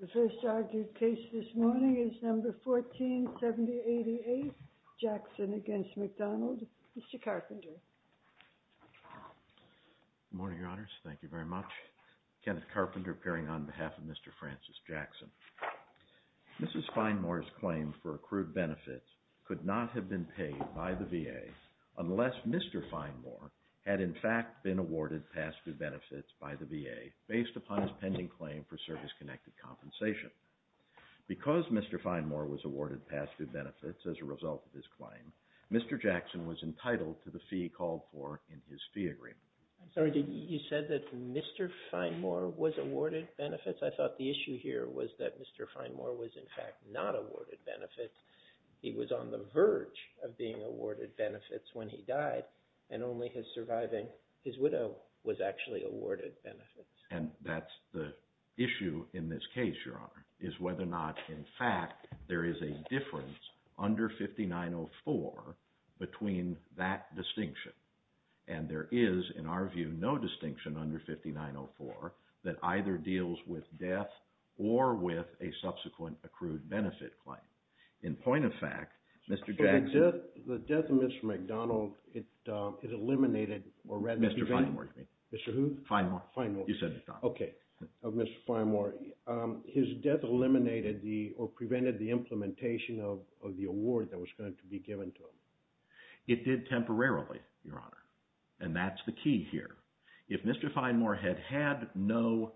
The first argued case this morning is number 147088, Jackson v. McDonald. Mr. Carpenter. Good morning, Your Honors. Thank you very much. Kenneth Carpenter appearing on behalf of Mr. Francis Jackson. Mrs. Feinmoore's claim for accrued benefits could not have been paid by the VA unless Mr. Feinmoore had in fact been awarded past due benefits by the VA based upon his pending claim for service-connected compensation. Because Mr. Feinmoore was awarded past due benefits as a result of his claim, Mr. Jackson was entitled to the fee he called for in his fee agreement. I'm sorry, you said that Mr. Feinmoore was awarded benefits? I thought the issue here was that Mr. Feinmoore was in fact not awarded benefits. He was on the verge of being awarded benefits when he died, and only his surviving widow was actually awarded benefits. And that's the issue in this case, Your Honor, is whether or not in fact there is a difference under 5904 between that distinction. And there is, in our view, no distinction under 5904 that either deals with death or with a subsequent accrued benefit claim. In point of fact, Mr. Jackson – So the death of Mr. McDonald, it eliminated – Mr. Feinmoore, you mean? Mr. Who? Feinmoore. Feinmoore. You said McDonald. Okay. Of Mr. Feinmoore, his death eliminated or prevented the implementation of the award that was going to be given to him. It did temporarily, Your Honor, and that's the key here. If Mr. Feinmoore had had no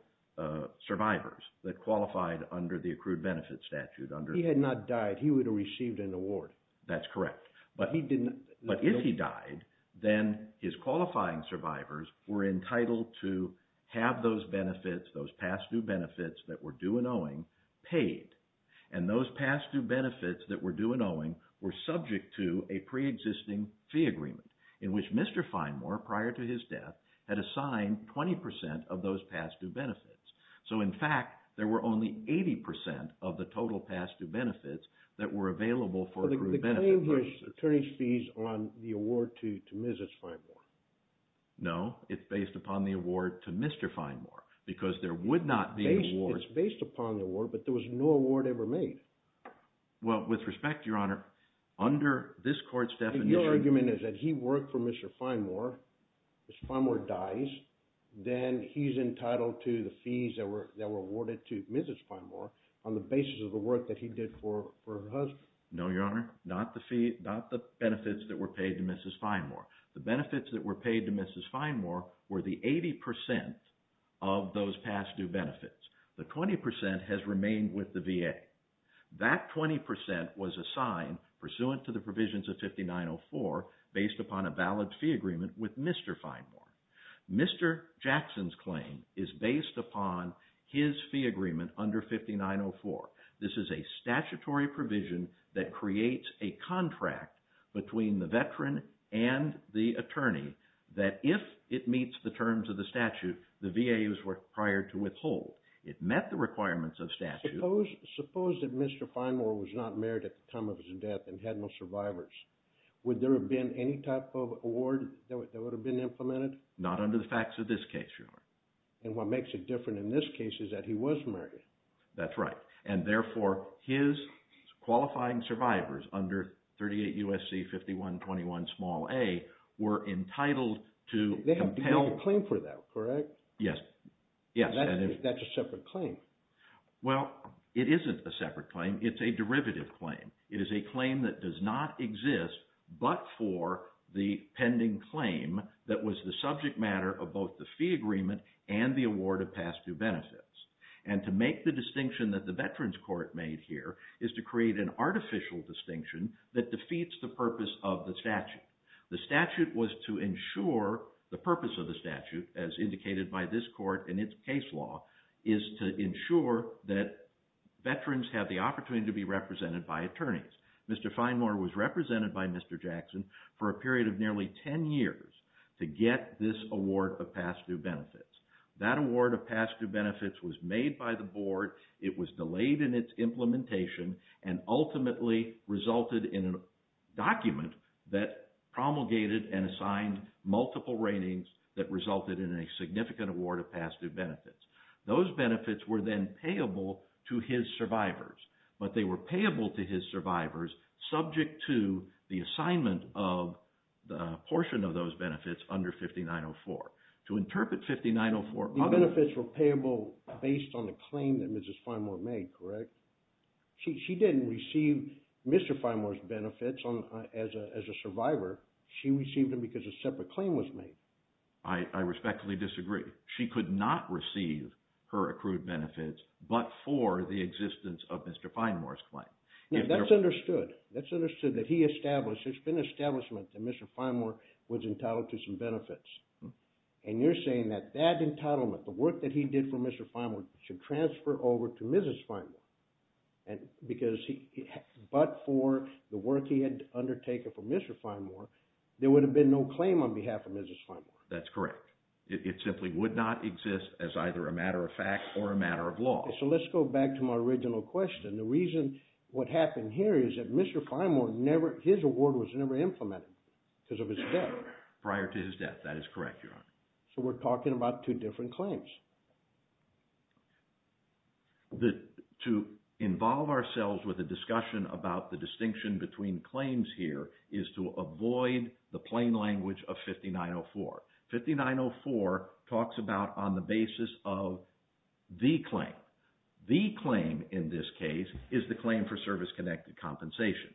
survivors that qualified under the accrued benefits statute – If he had not died, he would have received an award. That's correct. But if he died, then his qualifying survivors were entitled to have those benefits, those past due benefits that were due and owing, paid. And those past due benefits that were due and owing were subject to a preexisting fee agreement in which Mr. Feinmoore, prior to his death, had assigned 20 percent of those past due benefits. So in fact, there were only 80 percent of the total past due benefits that were available for accrued benefit. But the claim was attorney's fees on the award to Mrs. Feinmoore. No, it's based upon the award to Mr. Feinmoore because there would not be an award – It's based upon the award, but there was no award ever made. Well, with respect, Your Honor, under this court's definition – Then he's entitled to the fees that were awarded to Mrs. Feinmoore on the basis of the work that he did for her husband. No, Your Honor, not the benefits that were paid to Mrs. Feinmoore. The benefits that were paid to Mrs. Feinmoore were the 80 percent of those past due benefits. The 20 percent has remained with the VA. That 20 percent was assigned pursuant to the provisions of 5904 based upon a valid fee agreement with Mr. Feinmoore. Mr. Jackson's claim is based upon his fee agreement under 5904. This is a statutory provision that creates a contract between the veteran and the attorney that if it meets the terms of the statute, the VA is required to withhold. It met the requirements of statute. Suppose that Mr. Feinmoore was not married at the time of his death and had no survivors. Would there have been any type of award that would have been implemented? Not under the facts of this case, Your Honor. And what makes it different in this case is that he was married. That's right. And therefore, his qualifying survivors under 38 U.S.C. 5121 small a were entitled to compel… They have to make a claim for that, correct? Yes. That's a separate claim. Well, it isn't a separate claim. It's a derivative claim. It is a claim that does not exist but for the pending claim that was the subject matter of both the fee agreement and the award of past due benefits. And to make the distinction that the Veterans Court made here is to create an artificial distinction that defeats the purpose of the statute. The statute was to ensure – the purpose of the statute, as indicated by this court in its case law, is to ensure that veterans have the opportunity to be represented by attorneys. Mr. Finemore was represented by Mr. Jackson for a period of nearly 10 years to get this award of past due benefits. That award of past due benefits was made by the board. It was delayed in its implementation and ultimately resulted in a document that promulgated and assigned multiple ratings that resulted in a significant award of past due benefits. Those benefits were then payable to his survivors, but they were payable to his survivors subject to the assignment of the portion of those benefits under 5904. To interpret 5904… The benefits were payable based on the claim that Mrs. Finemore made, correct? She didn't receive Mr. Finemore's benefits as a survivor. She received them because a separate claim was made. I respectfully disagree. She could not receive her accrued benefits but for the existence of Mr. Finemore's claim. Now, that's understood. That's understood that he established – there's been an establishment that Mr. Finemore was entitled to some benefits. And you're saying that that entitlement, the work that he did for Mr. Finemore, should transfer over to Mrs. Finemore because he – but for the work he had undertaken for Mr. Finemore, there would have been no claim on behalf of Mrs. Finemore. That's correct. It simply would not exist as either a matter of fact or a matter of law. So let's go back to my original question. The reason what happened here is that Mr. Finemore never – his award was never implemented because of his death. That is correct, Your Honor. So we're talking about two different claims. To involve ourselves with a discussion about the distinction between claims here is to avoid the plain language of 5904. 5904 talks about on the basis of the claim. The claim in this case is the claim for service-connected compensation.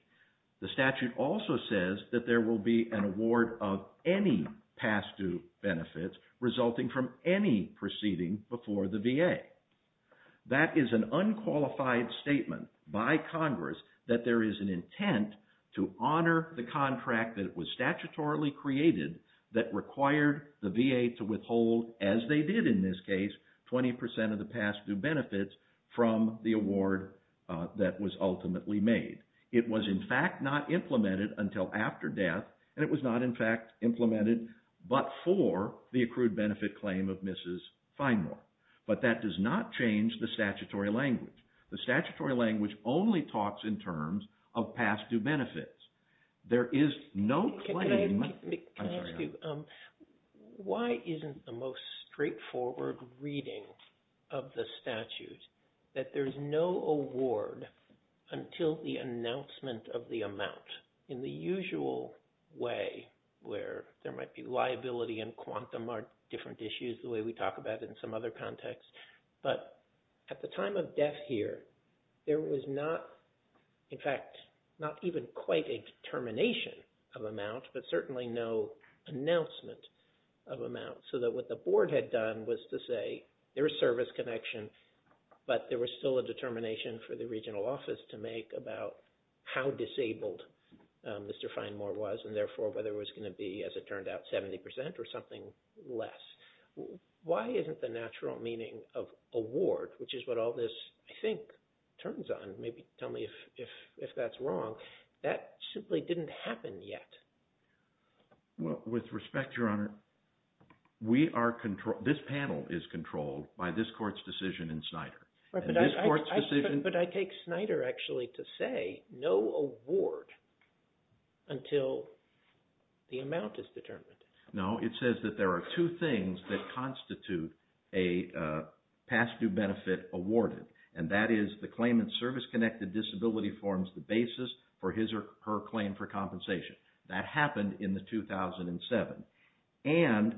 The statute also says that there will be an award of any past-due benefits resulting from any proceeding before the VA. That is an unqualified statement by Congress that there is an intent to honor the contract that was statutorily created that required the VA to withhold, as they did in this case, 20 percent of the past-due benefits from the award that was ultimately made. It was, in fact, not implemented until after death, and it was not, in fact, implemented but for the accrued benefit claim of Mrs. Finemore. But that does not change the statutory language. The statutory language only talks in terms of past-due benefits. There is no claim. Can I ask you, why isn't the most straightforward reading of the statute that there's no award until the announcement of the amount in the usual way where there might be liability and quantum are different issues the way we talk about it in some other context. But at the time of death here, there was not, in fact, not even quite a determination of amount, but certainly no announcement of amount. So that what the board had done was to say there is service connection, but there was still a determination for the regional office to make about how disabled Mr. Finemore was, and therefore whether it was going to be, as it turned out, 70 percent or something less. Why isn't the natural meaning of award, which is what all this, I think, turns on – maybe tell me if that's wrong – that simply didn't happen yet? Well, with respect, Your Honor, we are – this panel is controlled by this court's decision in Snyder. But I take Snyder actually to say no award until the amount is determined. No, it says that there are two things that constitute a past due benefit awarded, and that is the claimant's service-connected disability forms the basis for his or her claim for compensation. That happened in the 2007. And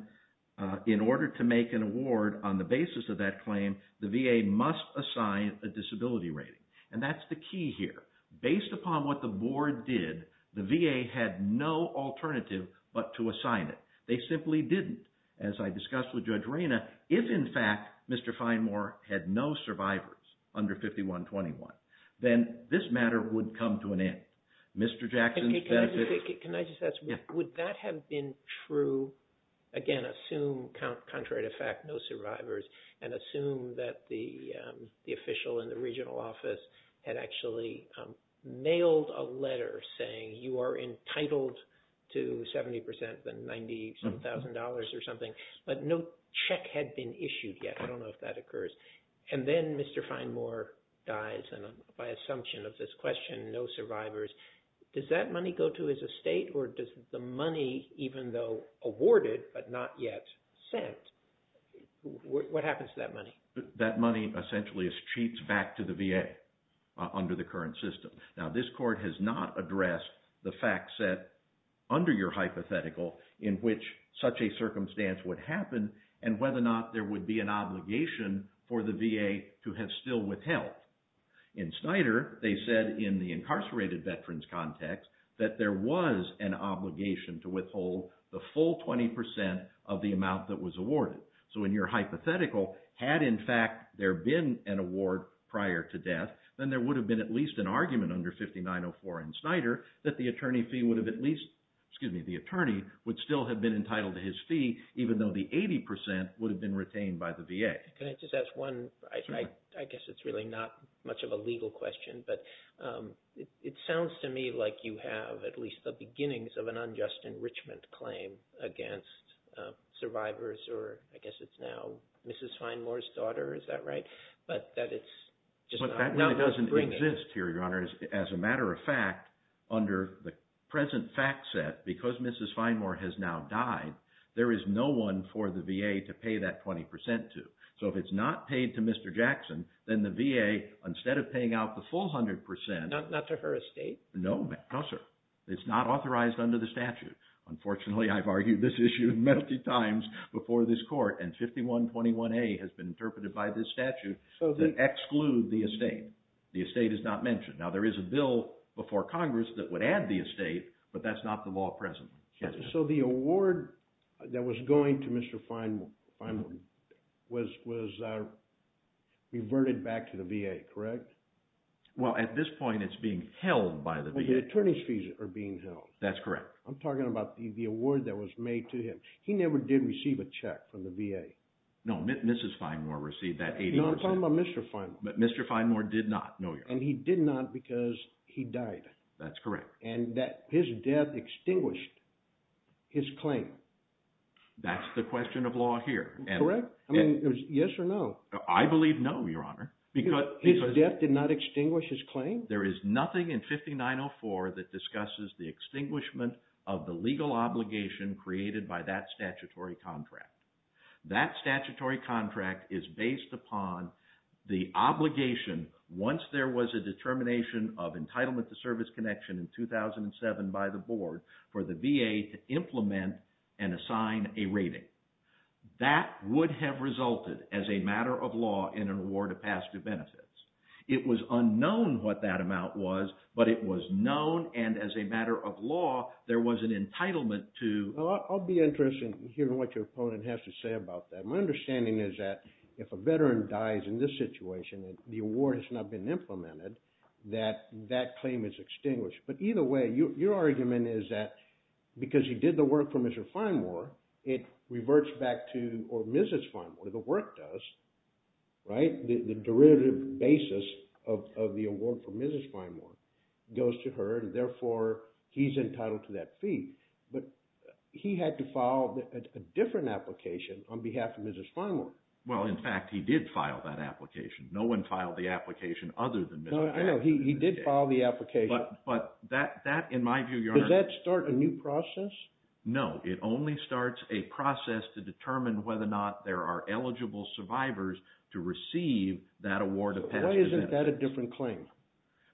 in order to make an award on the basis of that claim, the VA must assign a disability rating. And that's the key here. Based upon what the board did, the VA had no alternative but to assign it. They simply didn't, as I discussed with Judge Reyna. If, in fact, Mr. Finemore had no survivors under 5121, then this matter would come to an end. Can I just ask, would that have been true? Again, assume, contrary to fact, no survivors, and assume that the official in the regional office had actually mailed a letter saying you are entitled to 70 percent of the $97,000 or something, but no check had been issued yet. I don't know if that occurs. And then Mr. Finemore dies by assumption of this question, no survivors. Does that money go to his estate, or does the money, even though awarded but not yet sent, what happens to that money? That money essentially cheats back to the VA under the current system. Now, this court has not addressed the fact set under your hypothetical in which such a circumstance would happen and whether or not there would be an obligation for the VA to have still withheld. In Snyder, they said in the incarcerated veterans context that there was an obligation to withhold the full 20 percent of the amount that was awarded. So in your hypothetical, had in fact there been an award prior to death, then there would have been at least an argument under 5904 in Snyder that the attorney would still have been entitled to his fee, even though the 80 percent would have been retained by the VA. Can I just ask one, I guess it's really not much of a legal question, but it sounds to me like you have at least the beginnings of an unjust enrichment claim against survivors, or I guess it's now Mrs. Finemore's daughter, is that right? But that doesn't exist here, Your Honor. As a matter of fact, under the present fact set, because Mrs. Finemore has now died, there is no one for the VA to pay that 20 percent to. So if it's not paid to Mr. Jackson, then the VA, instead of paying out the full 100 percent – Not to her estate? No, sir. It's not authorized under the statute. Unfortunately, I've argued this issue many times before this court, and 5121A has been interpreted by this statute to exclude the estate. The estate is not mentioned. Now, there is a bill before Congress that would add the estate, but that's not the law presently. So the award that was going to Mr. Finemore was reverted back to the VA, correct? Well, at this point, it's being held by the VA. The attorney's fees are being held. That's correct. I'm talking about the award that was made to him. He never did receive a check from the VA. No, Mrs. Finemore received that 80 percent. You're talking about Mr. Finemore. But Mr. Finemore did not, no, Your Honor. And he did not because he died. That's correct. And his death extinguished his claim. That's the question of law here. Correct? I mean, yes or no? I believe no, Your Honor. His death did not extinguish his claim? There is nothing in 5904 that discusses the extinguishment of the legal obligation created by that statutory contract. That statutory contract is based upon the obligation, once there was a determination of entitlement to service connection in 2007 by the board, for the VA to implement and assign a rating. That would have resulted, as a matter of law, in an award of past due benefits. It was unknown what that amount was, but it was known, and as a matter of law, there was an entitlement to… I'll be interested in hearing what your opponent has to say about that. My understanding is that if a veteran dies in this situation and the award has not been implemented, that that claim is extinguished. But either way, your argument is that because he did the work for Mr. Finemore, it reverts back to Mrs. Finemore. The work does, right? The derivative basis of the award for Mrs. Finemore goes to her, and therefore he's entitled to that fee. But he had to file a different application on behalf of Mrs. Finemore. Well, in fact, he did file that application. No one filed the application other than Mrs. Finemore. No, I know. He did file the application. But that, in my view, Your Honor… Does that start a new process? No, it only starts a process to determine whether or not there are eligible survivors to receive that award of past due benefits. Why isn't that a different claim?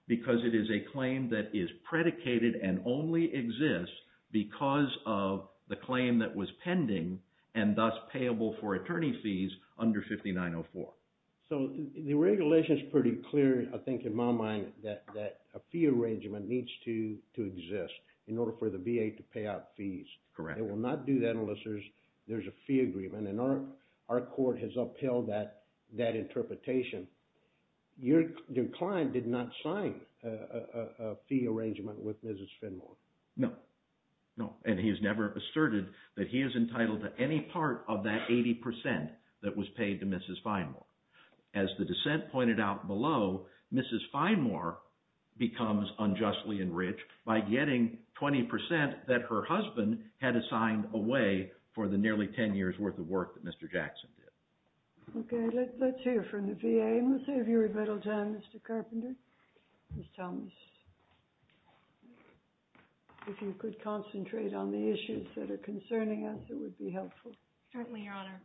Because it is a claim that is predicated and only exists because of the claim that was pending and thus payable for attorney fees under 5904. So the regulation is pretty clear, I think, in my mind, that a fee arrangement needs to exist in order for the VA to pay out fees. Correct. They will not do that unless there's a fee agreement, and our court has upheld that interpretation. Your client did not sign a fee arrangement with Mrs. Finemore. No, no, and he has never asserted that he is entitled to any part of that 80% that was paid to Mrs. Finemore. As the dissent pointed out below, Mrs. Finemore becomes unjustly enriched by getting 20% that her husband had assigned away for the nearly 10 years' worth of work that Mr. Jackson did. Okay, let's hear from the VA. If I may, Ms. Avery-Bettelton, Mr. Carpenter, Ms. Thomas, if you could concentrate on the issues that are concerning us, it would be helpful. Certainly, Your Honor.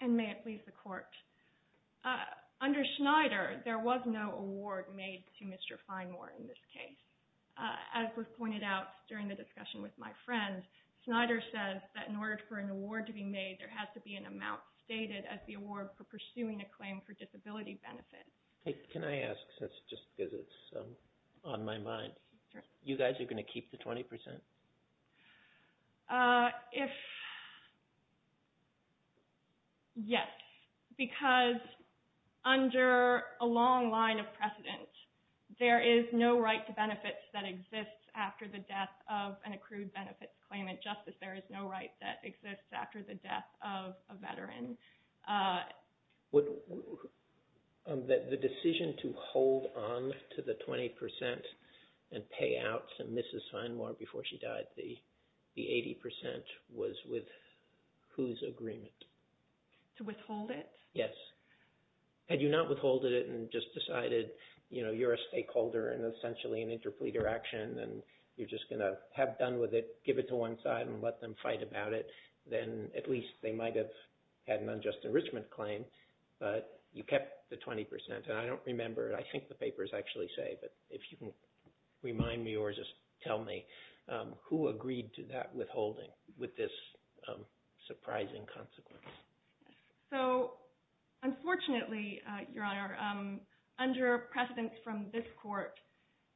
And may it please the Court. Under Schneider, there was no award made to Mr. Finemore in this case. As was pointed out during the discussion with my friend, Schneider says that in order for an award to be made, there has to be an amount stated as the award for pursuing a claim for disability benefit. Can I ask, just because it's on my mind, you guys are going to keep the 20%? Yes, because under a long line of precedent, there is no right to benefits that exists after the death of an accrued benefits claimant. Just as there is no right that exists after the death of a veteran. The decision to hold on to the 20% and pay out to Mrs. Finemore before she died, the 80%, was with whose agreement? To withhold it? Yes. Had you not withholded it and just decided, you know, you're a stakeholder and essentially an interpleader action and you're just going to have done with it, give it to one side and let them fight about it, then at least they might have had an unjust enrichment claim, but you kept the 20%. And I don't remember, I think the papers actually say, but if you can remind me or just tell me, who agreed to that withholding with this surprising consequence? So, unfortunately, Your Honor, under precedence from this court,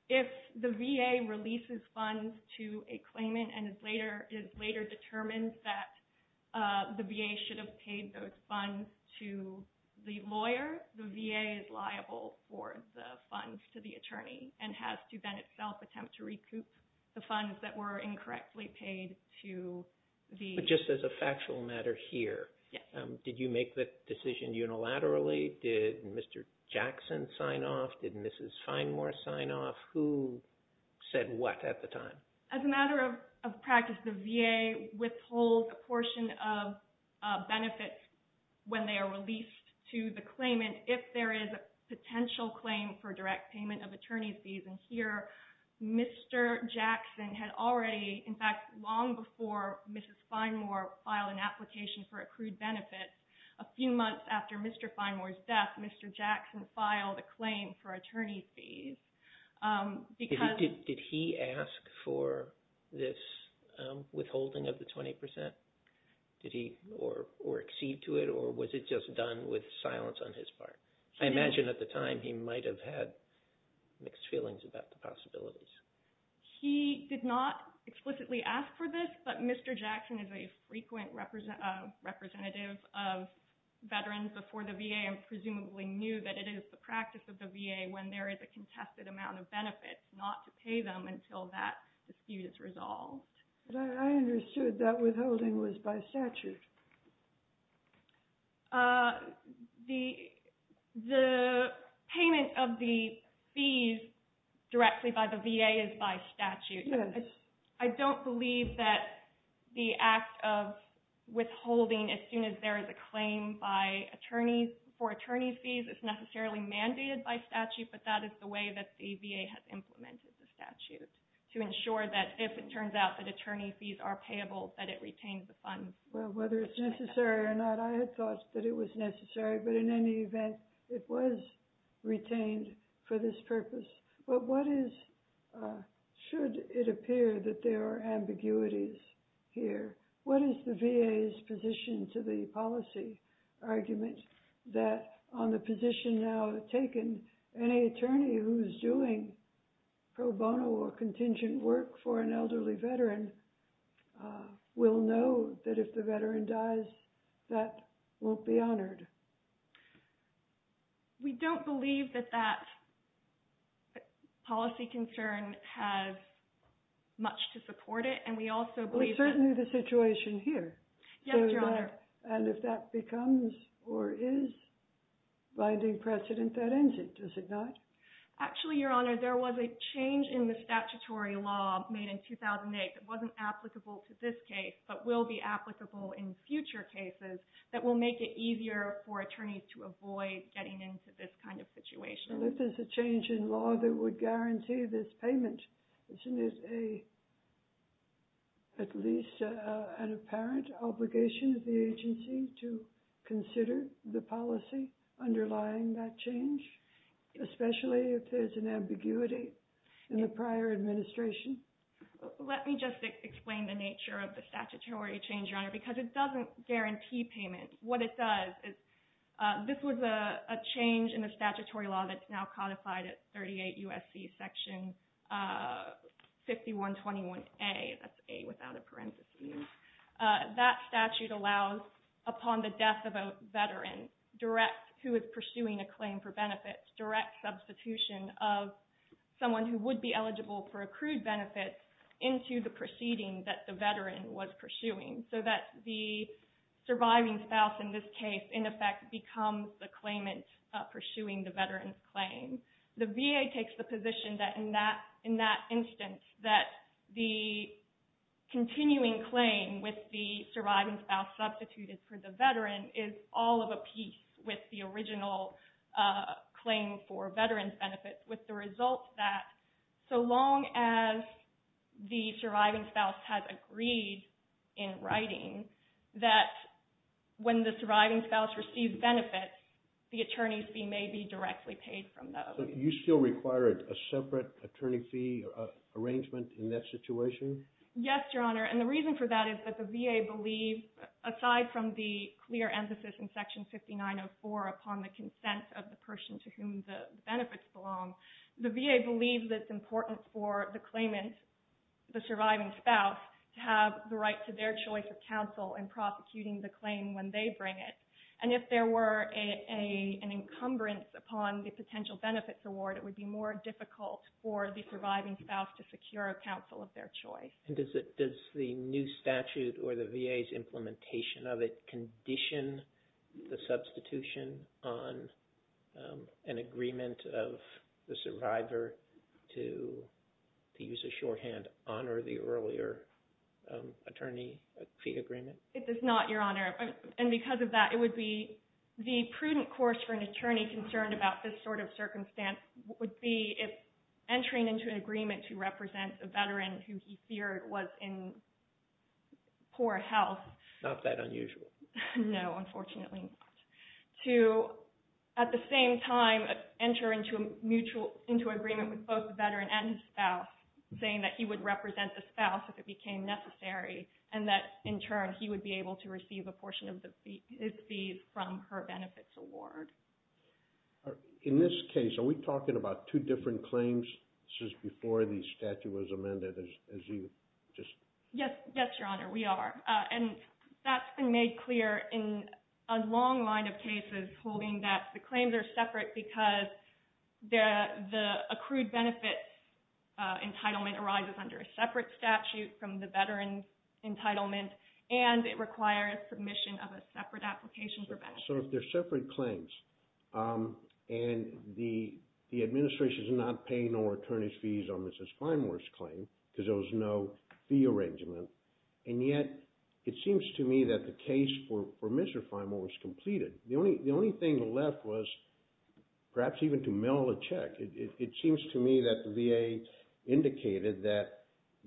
if the VA releases funds to a claimant and is later determined that the VA should have paid those funds to the lawyer, the VA is liable for the funds to the attorney and has to then itself attempt to recoup the funds that were incorrectly paid to the lawyer. But just as a factual matter here, did you make the decision unilaterally? Did Mr. Jackson sign off? Did Mrs. Finemore sign off? Who said what at the time? As a matter of practice, the VA withholds a portion of benefits when they are released to the claimant if there is a potential claim for direct payment of attorney's fees. And here, Mr. Jackson had already, in fact, long before Mrs. Finemore filed an application for accrued benefits, a few months after Mr. Finemore's death, Mr. Jackson filed a claim for attorney's fees. Did he ask for this withholding of the 20%? Or accede to it? Or was it just done with silence on his part? I imagine at the time he might have had mixed feelings about the possibilities. He did not explicitly ask for this, but Mr. Jackson is a frequent representative of veterans before the VA and presumably knew that it is the practice of the VA when there is a contested amount of benefits not to pay them until that dispute is resolved. I understood that withholding was by statute. The payment of the fees directly by the VA is by statute. I don't believe that the act of withholding as soon as there is a claim for attorney's fees is necessarily mandated by statute, but that is the way that the VA has implemented the statute to ensure that if it turns out that attorney's fees are payable, that it retains the funds. Well, whether it's necessary or not, I had thought that it was necessary, but in any event, it was retained for this purpose. But what is, should it appear that there are ambiguities here? What is the VA's position to the policy argument that on the position now taken, any attorney who is doing pro bono or contingent work for an elderly veteran will know that if the veteran dies, that won't be honored? We don't believe that that policy concern has much to support it. Well, it's certainly the situation here. Yes, Your Honor. And if that becomes or is binding precedent, that ends it, does it not? Actually, Your Honor, there was a change in the statutory law made in 2008 that wasn't applicable to this case but will be applicable in future cases that will make it easier for attorneys to avoid getting into this kind of situation. Well, if there's a change in law that would guarantee this payment, isn't it at least an apparent obligation of the agency to consider the policy underlying that change, especially if there's an ambiguity in the prior administration? Let me just explain the nature of the statutory change, Your Honor, because it doesn't guarantee payment. What it does is this was a change in the statutory law that's now codified at 38 U.S.C. Section 5121A. That's A without a parenthesis. That statute allows upon the death of a veteran who is pursuing a claim for benefits direct substitution of someone who would be eligible for accrued benefits into the proceeding that the veteran was pursuing so that the surviving spouse in this case, in effect, becomes the claimant pursuing the veteran's claim. The VA takes the position that in that instance that the continuing claim with the surviving spouse substituted for the veteran is all of a piece with the original claim for veteran's benefits with the result that so long as the surviving spouse has agreed in writing that when the surviving spouse receives benefits, the attorney's fee may be directly paid from those. So you still require a separate attorney fee arrangement in that situation? Yes, Your Honor. And the reason for that is that the VA believes, aside from the clear emphasis in Section 5904 upon the consent of the person to whom the benefits belong, the VA believes it's important for the claimant, the surviving spouse, to have the right to their choice of counsel in prosecuting the claim when they bring it. And if there were an encumbrance upon the potential benefits award, it would be more difficult for the surviving spouse to secure a counsel of their choice. Does the new statute or the VA's implementation of it condition the substitution on an agreement of the survivor to, to use a shorthand, honor the earlier attorney fee agreement? It does not, Your Honor. And because of that, it would be the prudent course for an attorney concerned about this sort of circumstance would be if entering into an agreement to represent a veteran who he feared was in poor health. Not that unusual. No, unfortunately not. To, at the same time, enter into a mutual, into agreement with both the veteran and his spouse, saying that he would represent the spouse if it became necessary, and that, in turn, he would be able to receive a portion of the, his fees from her benefits award. In this case, are we talking about two different claims? This is before the statute was amended, as you just... Yes, yes, Your Honor, we are. And that's been made clear in a long line of cases holding that the claims are separate because the, the accrued benefits entitlement arises under a separate statute from the veteran's entitlement, and it requires submission of a separate application for benefits. So they're separate claims. And the, the administration's not paying no attorney's fees on Mrs. Finemore's claim because there was no fee arrangement. And yet, it seems to me that the case for Mr. Finemore was completed. The only, the only thing left was perhaps even to mail a check. It, it seems to me that the VA indicated that,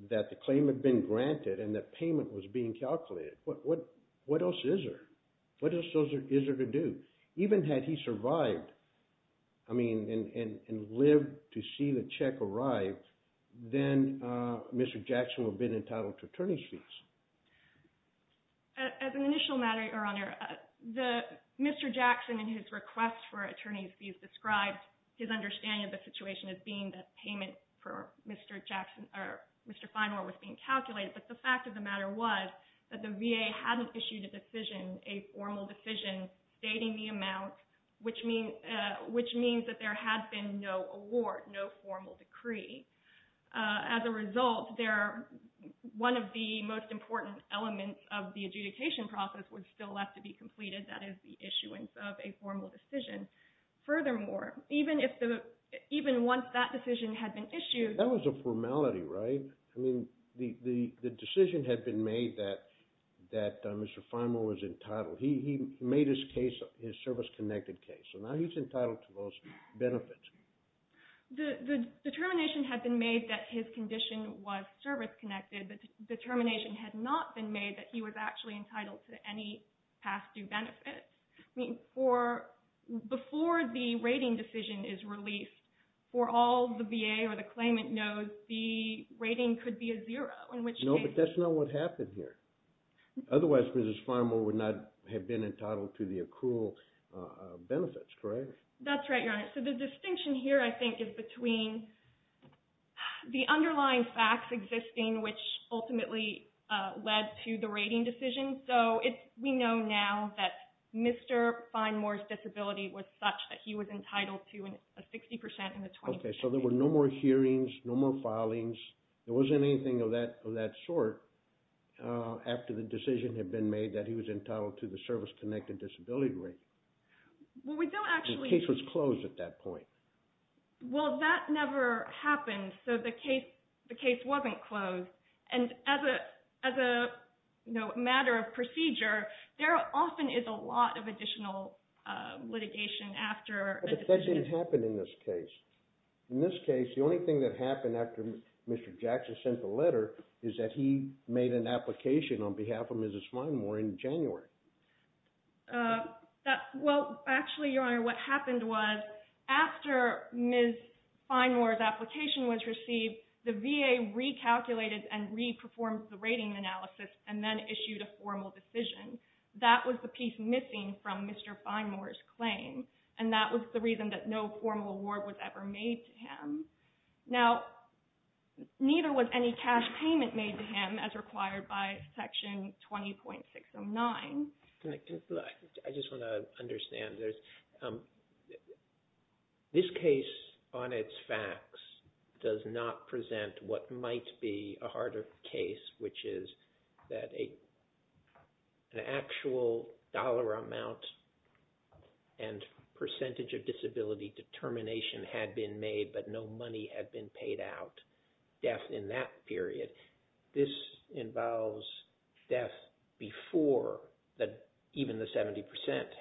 that the claim had been granted and that payment was being calculated. What, what, what else is there? What else is there to do? Even had he survived, I mean, and, and, and lived to see the check arrive, then Mr. Jackson would have been entitled to attorney's fees. As an initial matter, Your Honor, the, Mr. Jackson in his request for attorney's fees described his understanding of the situation as being that payment for Mr. Jackson, or Mr. Finemore was being calculated. But the fact of the matter was that the VA hadn't issued a decision, a formal decision, stating the amount, which means, which means that there had been no award, no formal decree. As a result, there, one of the most important elements of the adjudication process was still left to be completed. That is the issuance of a formal decision. Furthermore, even if the, even once that decision had been issued. That was a formality, right? I mean, the, the, the decision had been made that, that Mr. Finemore was entitled. He, he made his case, his service-connected case. So now he's entitled to those benefits. The, the determination had been made that his condition was service-connected. The determination had not been made that he was actually entitled to any past due benefit. I mean, for, before the rating decision is released, for all the VA or the claimant knows, the rating could be a zero, in which case. No, but that's not what happened here. Otherwise, Mrs. Finemore would not have been entitled to the accrual benefits, correct? That's right, Your Honor. So the distinction here, I think, is between the underlying facts existing, which ultimately led to the rating decision. So it's, we know now that Mr. Finemore's disability was such that he was entitled to a 60% in the 2016. Okay, so there were no more hearings, no more filings. There wasn't anything of that, of that sort after the decision had been made that he was entitled to the service-connected disability rating. Well, we don't actually. The case was closed at that point. Well, that never happened. So the case, the case wasn't closed. And as a matter of procedure, there often is a lot of additional litigation after a decision. But that didn't happen in this case. In this case, the only thing that happened after Mr. Jackson sent the letter is that he made an application on behalf of Mrs. Finemore in January. Well, actually, Your Honor, what happened was after Ms. Finemore's application was received, the VA recalculated and re-performed the rating analysis and then issued a formal decision. That was the piece missing from Mr. Finemore's claim. And that was the reason that no formal award was ever made to him. Now, neither was any cash payment made to him as required by Section 20.609. I just want to understand, this case on its facts does not present what might be a harder case, which is that an actual dollar amount and percentage of disability determination had been made, but no money had been paid out in that period. This involves death before even the 70%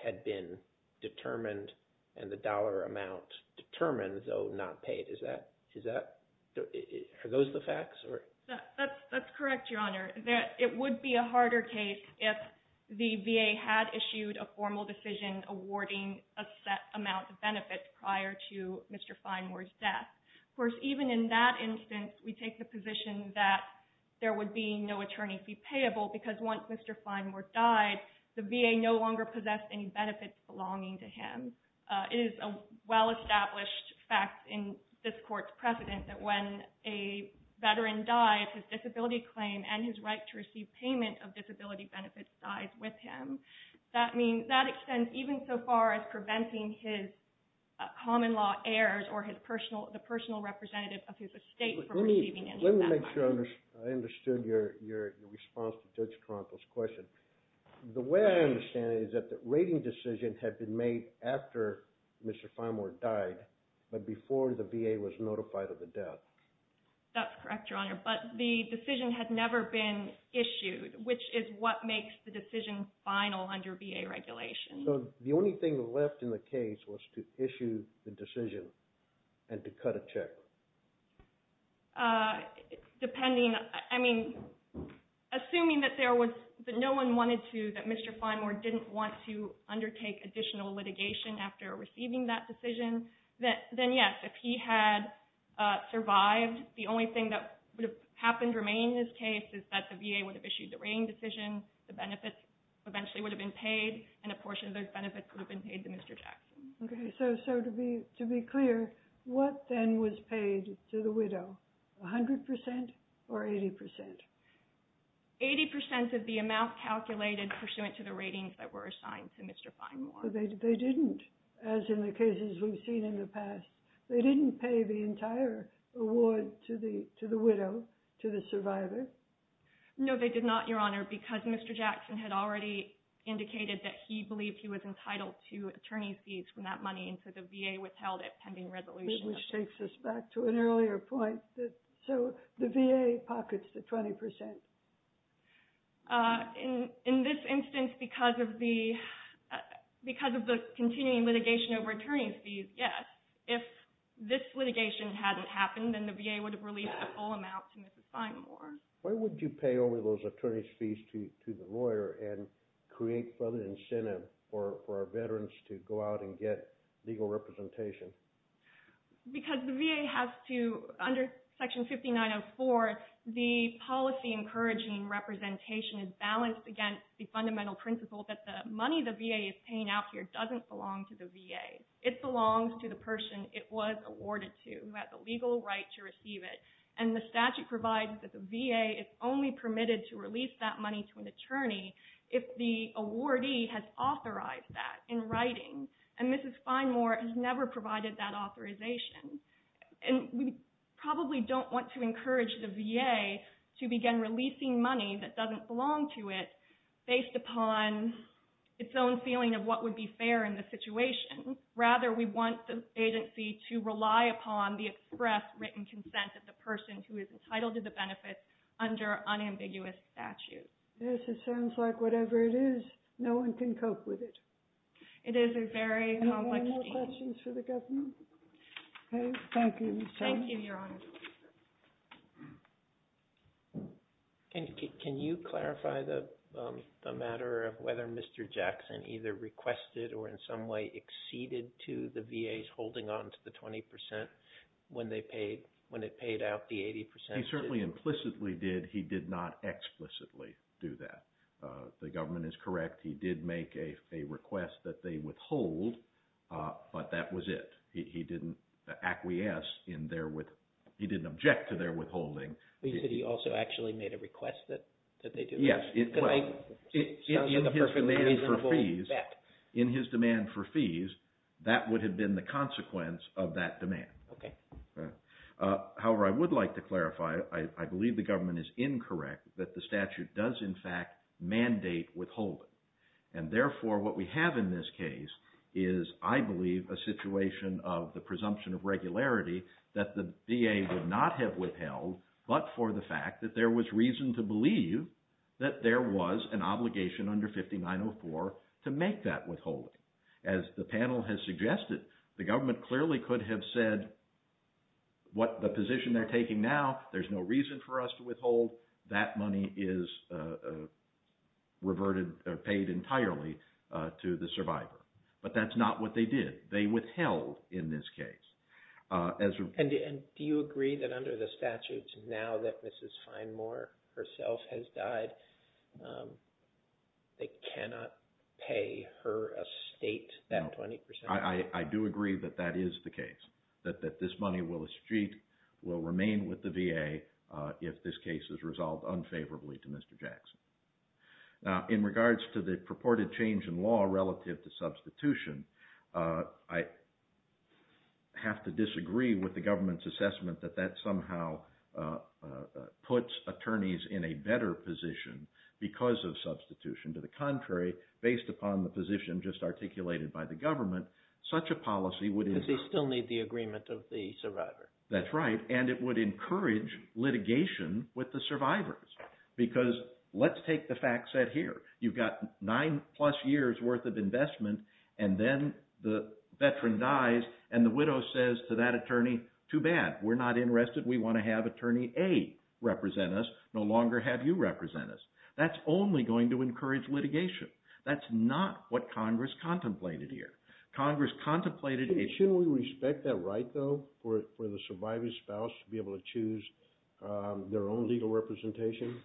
had been determined and the dollar amount determined, though not paid. Are those the facts? That's correct, Your Honor. It would be a harder case if the VA had issued a formal decision awarding a set amount of benefit prior to Mr. Finemore's death. Of course, even in that instance, we take the position that there would be no attorney fee payable because once Mr. Finemore died, the VA no longer possessed any benefits belonging to him. It is a well-established fact in this Court's precedent that when a veteran dies, his disability claim and his right to receive payment of disability benefits dies with him. That extends even so far as preventing his common law heirs or the personal representative of his estate from receiving any set amount. Let me make sure I understood your response to Judge Toronto's question. The way I understand it is that the rating decision had been made after Mr. Finemore died, but before the VA was notified of the death. That's correct, Your Honor. But the decision had never been issued, which is what makes the decision final under VA regulation. The only thing left in the case was to issue the decision and to cut a check. Assuming that no one wanted to, that Mr. Finemore didn't want to undertake additional litigation after receiving that decision, then yes, if he had survived, the only thing that would have happened remaining in his case is that the VA would have issued the rating decision, the benefits eventually would have been paid, and a portion of those benefits would have been paid to Mr. Jackson. Okay, so to be clear, what then was paid to the widow? 100% or 80%? 80% of the amount calculated pursuant to the ratings that were assigned to Mr. Finemore. They didn't, as in the cases we've seen in the past. They didn't pay the entire award to the widow, to the survivor. No, they did not, Your Honor, because Mr. Jackson had already indicated that he believed he was entitled to attorney's fees from that money, and so the VA withheld it pending resolution. Which takes us back to an earlier point. So the VA pockets the 20%. In this instance, because of the continuing litigation over attorney's fees, yes. If this litigation hadn't happened, then the VA would have released the full amount to Mr. Finemore. Why wouldn't you pay over those attorney's fees to the lawyer and create further incentive for our veterans to go out and get legal representation? Because the VA has to, under Section 5904, the policy encouraging representation is balanced against the fundamental principle that the money the VA is paying out here doesn't belong to the VA. It belongs to the person it was awarded to, who has the legal right to receive it. And the statute provides that the VA is only permitted to release that money to an attorney if the awardee has authorized that in writing. And Mrs. Finemore has never provided that authorization. And we probably don't want to encourage the VA to begin releasing money that doesn't belong to it, based upon its own feeling of what would be fair in the situation. Rather, we want the agency to rely upon the express written consent of the person who is entitled to the benefits under unambiguous statute. Yes, it sounds like whatever it is, no one can cope with it. It is a very complex issue. Are there any more questions for the government? Okay, thank you, Ms. Finemore. Thank you, Your Honor. Can you clarify the matter of whether Mr. Jackson either requested or in some way acceded to the VA's holding on to the 20% when it paid out the 80%? He certainly implicitly did. He did not explicitly do that. The government is correct. He did make a request that they withhold, but that was it. He didn't acquiesce in their – he didn't object to their withholding. But you said he also actually made a request that they do. Yes. It sounds like a perfectly reasonable bet. In his demand for fees, that would have been the consequence of that demand. Okay. However, I would like to clarify, I believe the government is incorrect that the statute does in fact mandate withholding. And therefore, what we have in this case is, I believe, a situation of the presumption of regularity that the VA would not have withheld, but for the fact that there was reason to believe that there was an obligation under 5904 to make that withholding. As the panel has suggested, the government clearly could have said what the position they're taking now, there's no reason for us to withhold, that money is reverted or paid entirely to the survivor. But that's not what they did. They withheld in this case. And do you agree that under the statutes, now that Mrs. Finemore herself has died, they cannot pay her estate that 20%? I do agree that that is the case, that this money will remain with the VA if this case is resolved unfavorably to Mr. Jackson. Now, in regards to the purported change in law relative to substitution, I have to disagree with the government's assessment that that somehow puts attorneys in a better position because of substitution. To the contrary, based upon the position just articulated by the government, such a policy would… Because they still need the agreement of the survivor. That's right, and it would encourage litigation with the survivors. Because let's take the fact set here. You've got nine plus years worth of investment, and then the veteran dies, and the widow says to that attorney, too bad, we're not interested. We want to have attorney A represent us, no longer have you represent us. That's only going to encourage litigation. That's not what Congress contemplated here. Congress contemplated… Shouldn't we respect that right, though, for the surviving spouse to be able to choose their own legal representation?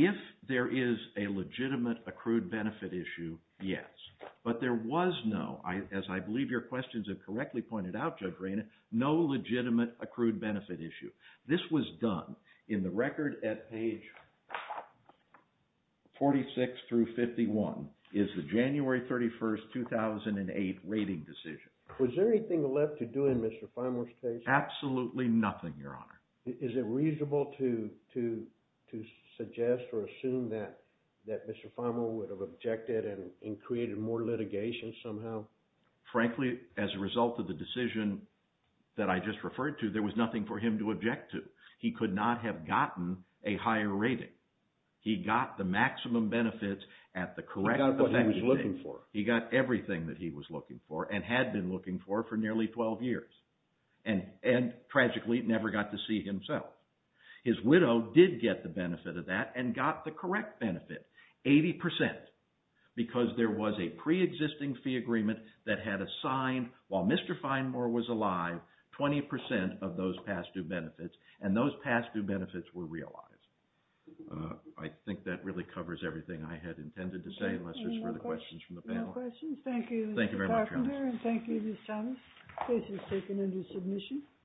If there is a legitimate accrued benefit issue, yes. But there was no, as I believe your questions have correctly pointed out, Judge Rayner, no legitimate accrued benefit issue. This was done in the record at page 46 through 51 is the January 31, 2008 rating decision. Was there anything left to do in Mr. Feimler's case? Absolutely nothing, your honor. Is it reasonable to suggest or assume that Mr. Feimler would have objected and created more litigation somehow? Frankly, as a result of the decision that I just referred to, there was nothing for him to object to. He could not have gotten a higher rating. He got the maximum benefits at the correct… He got what he was looking for. He got everything that he was looking for and had been looking for for nearly 12 years, and tragically never got to see himself. His widow did get the benefit of that and got the correct benefit, 80 percent, because there was a preexisting fee agreement that had assigned, while Mr. Feimler was alive, 20 percent of those past due benefits, and those past due benefits were realized. I think that really covers everything I had intended to say, unless there's further questions from the panel. No questions. Thank you, Mr. Carpenter, and thank you, Ms. Thomas. Case is taken into submission.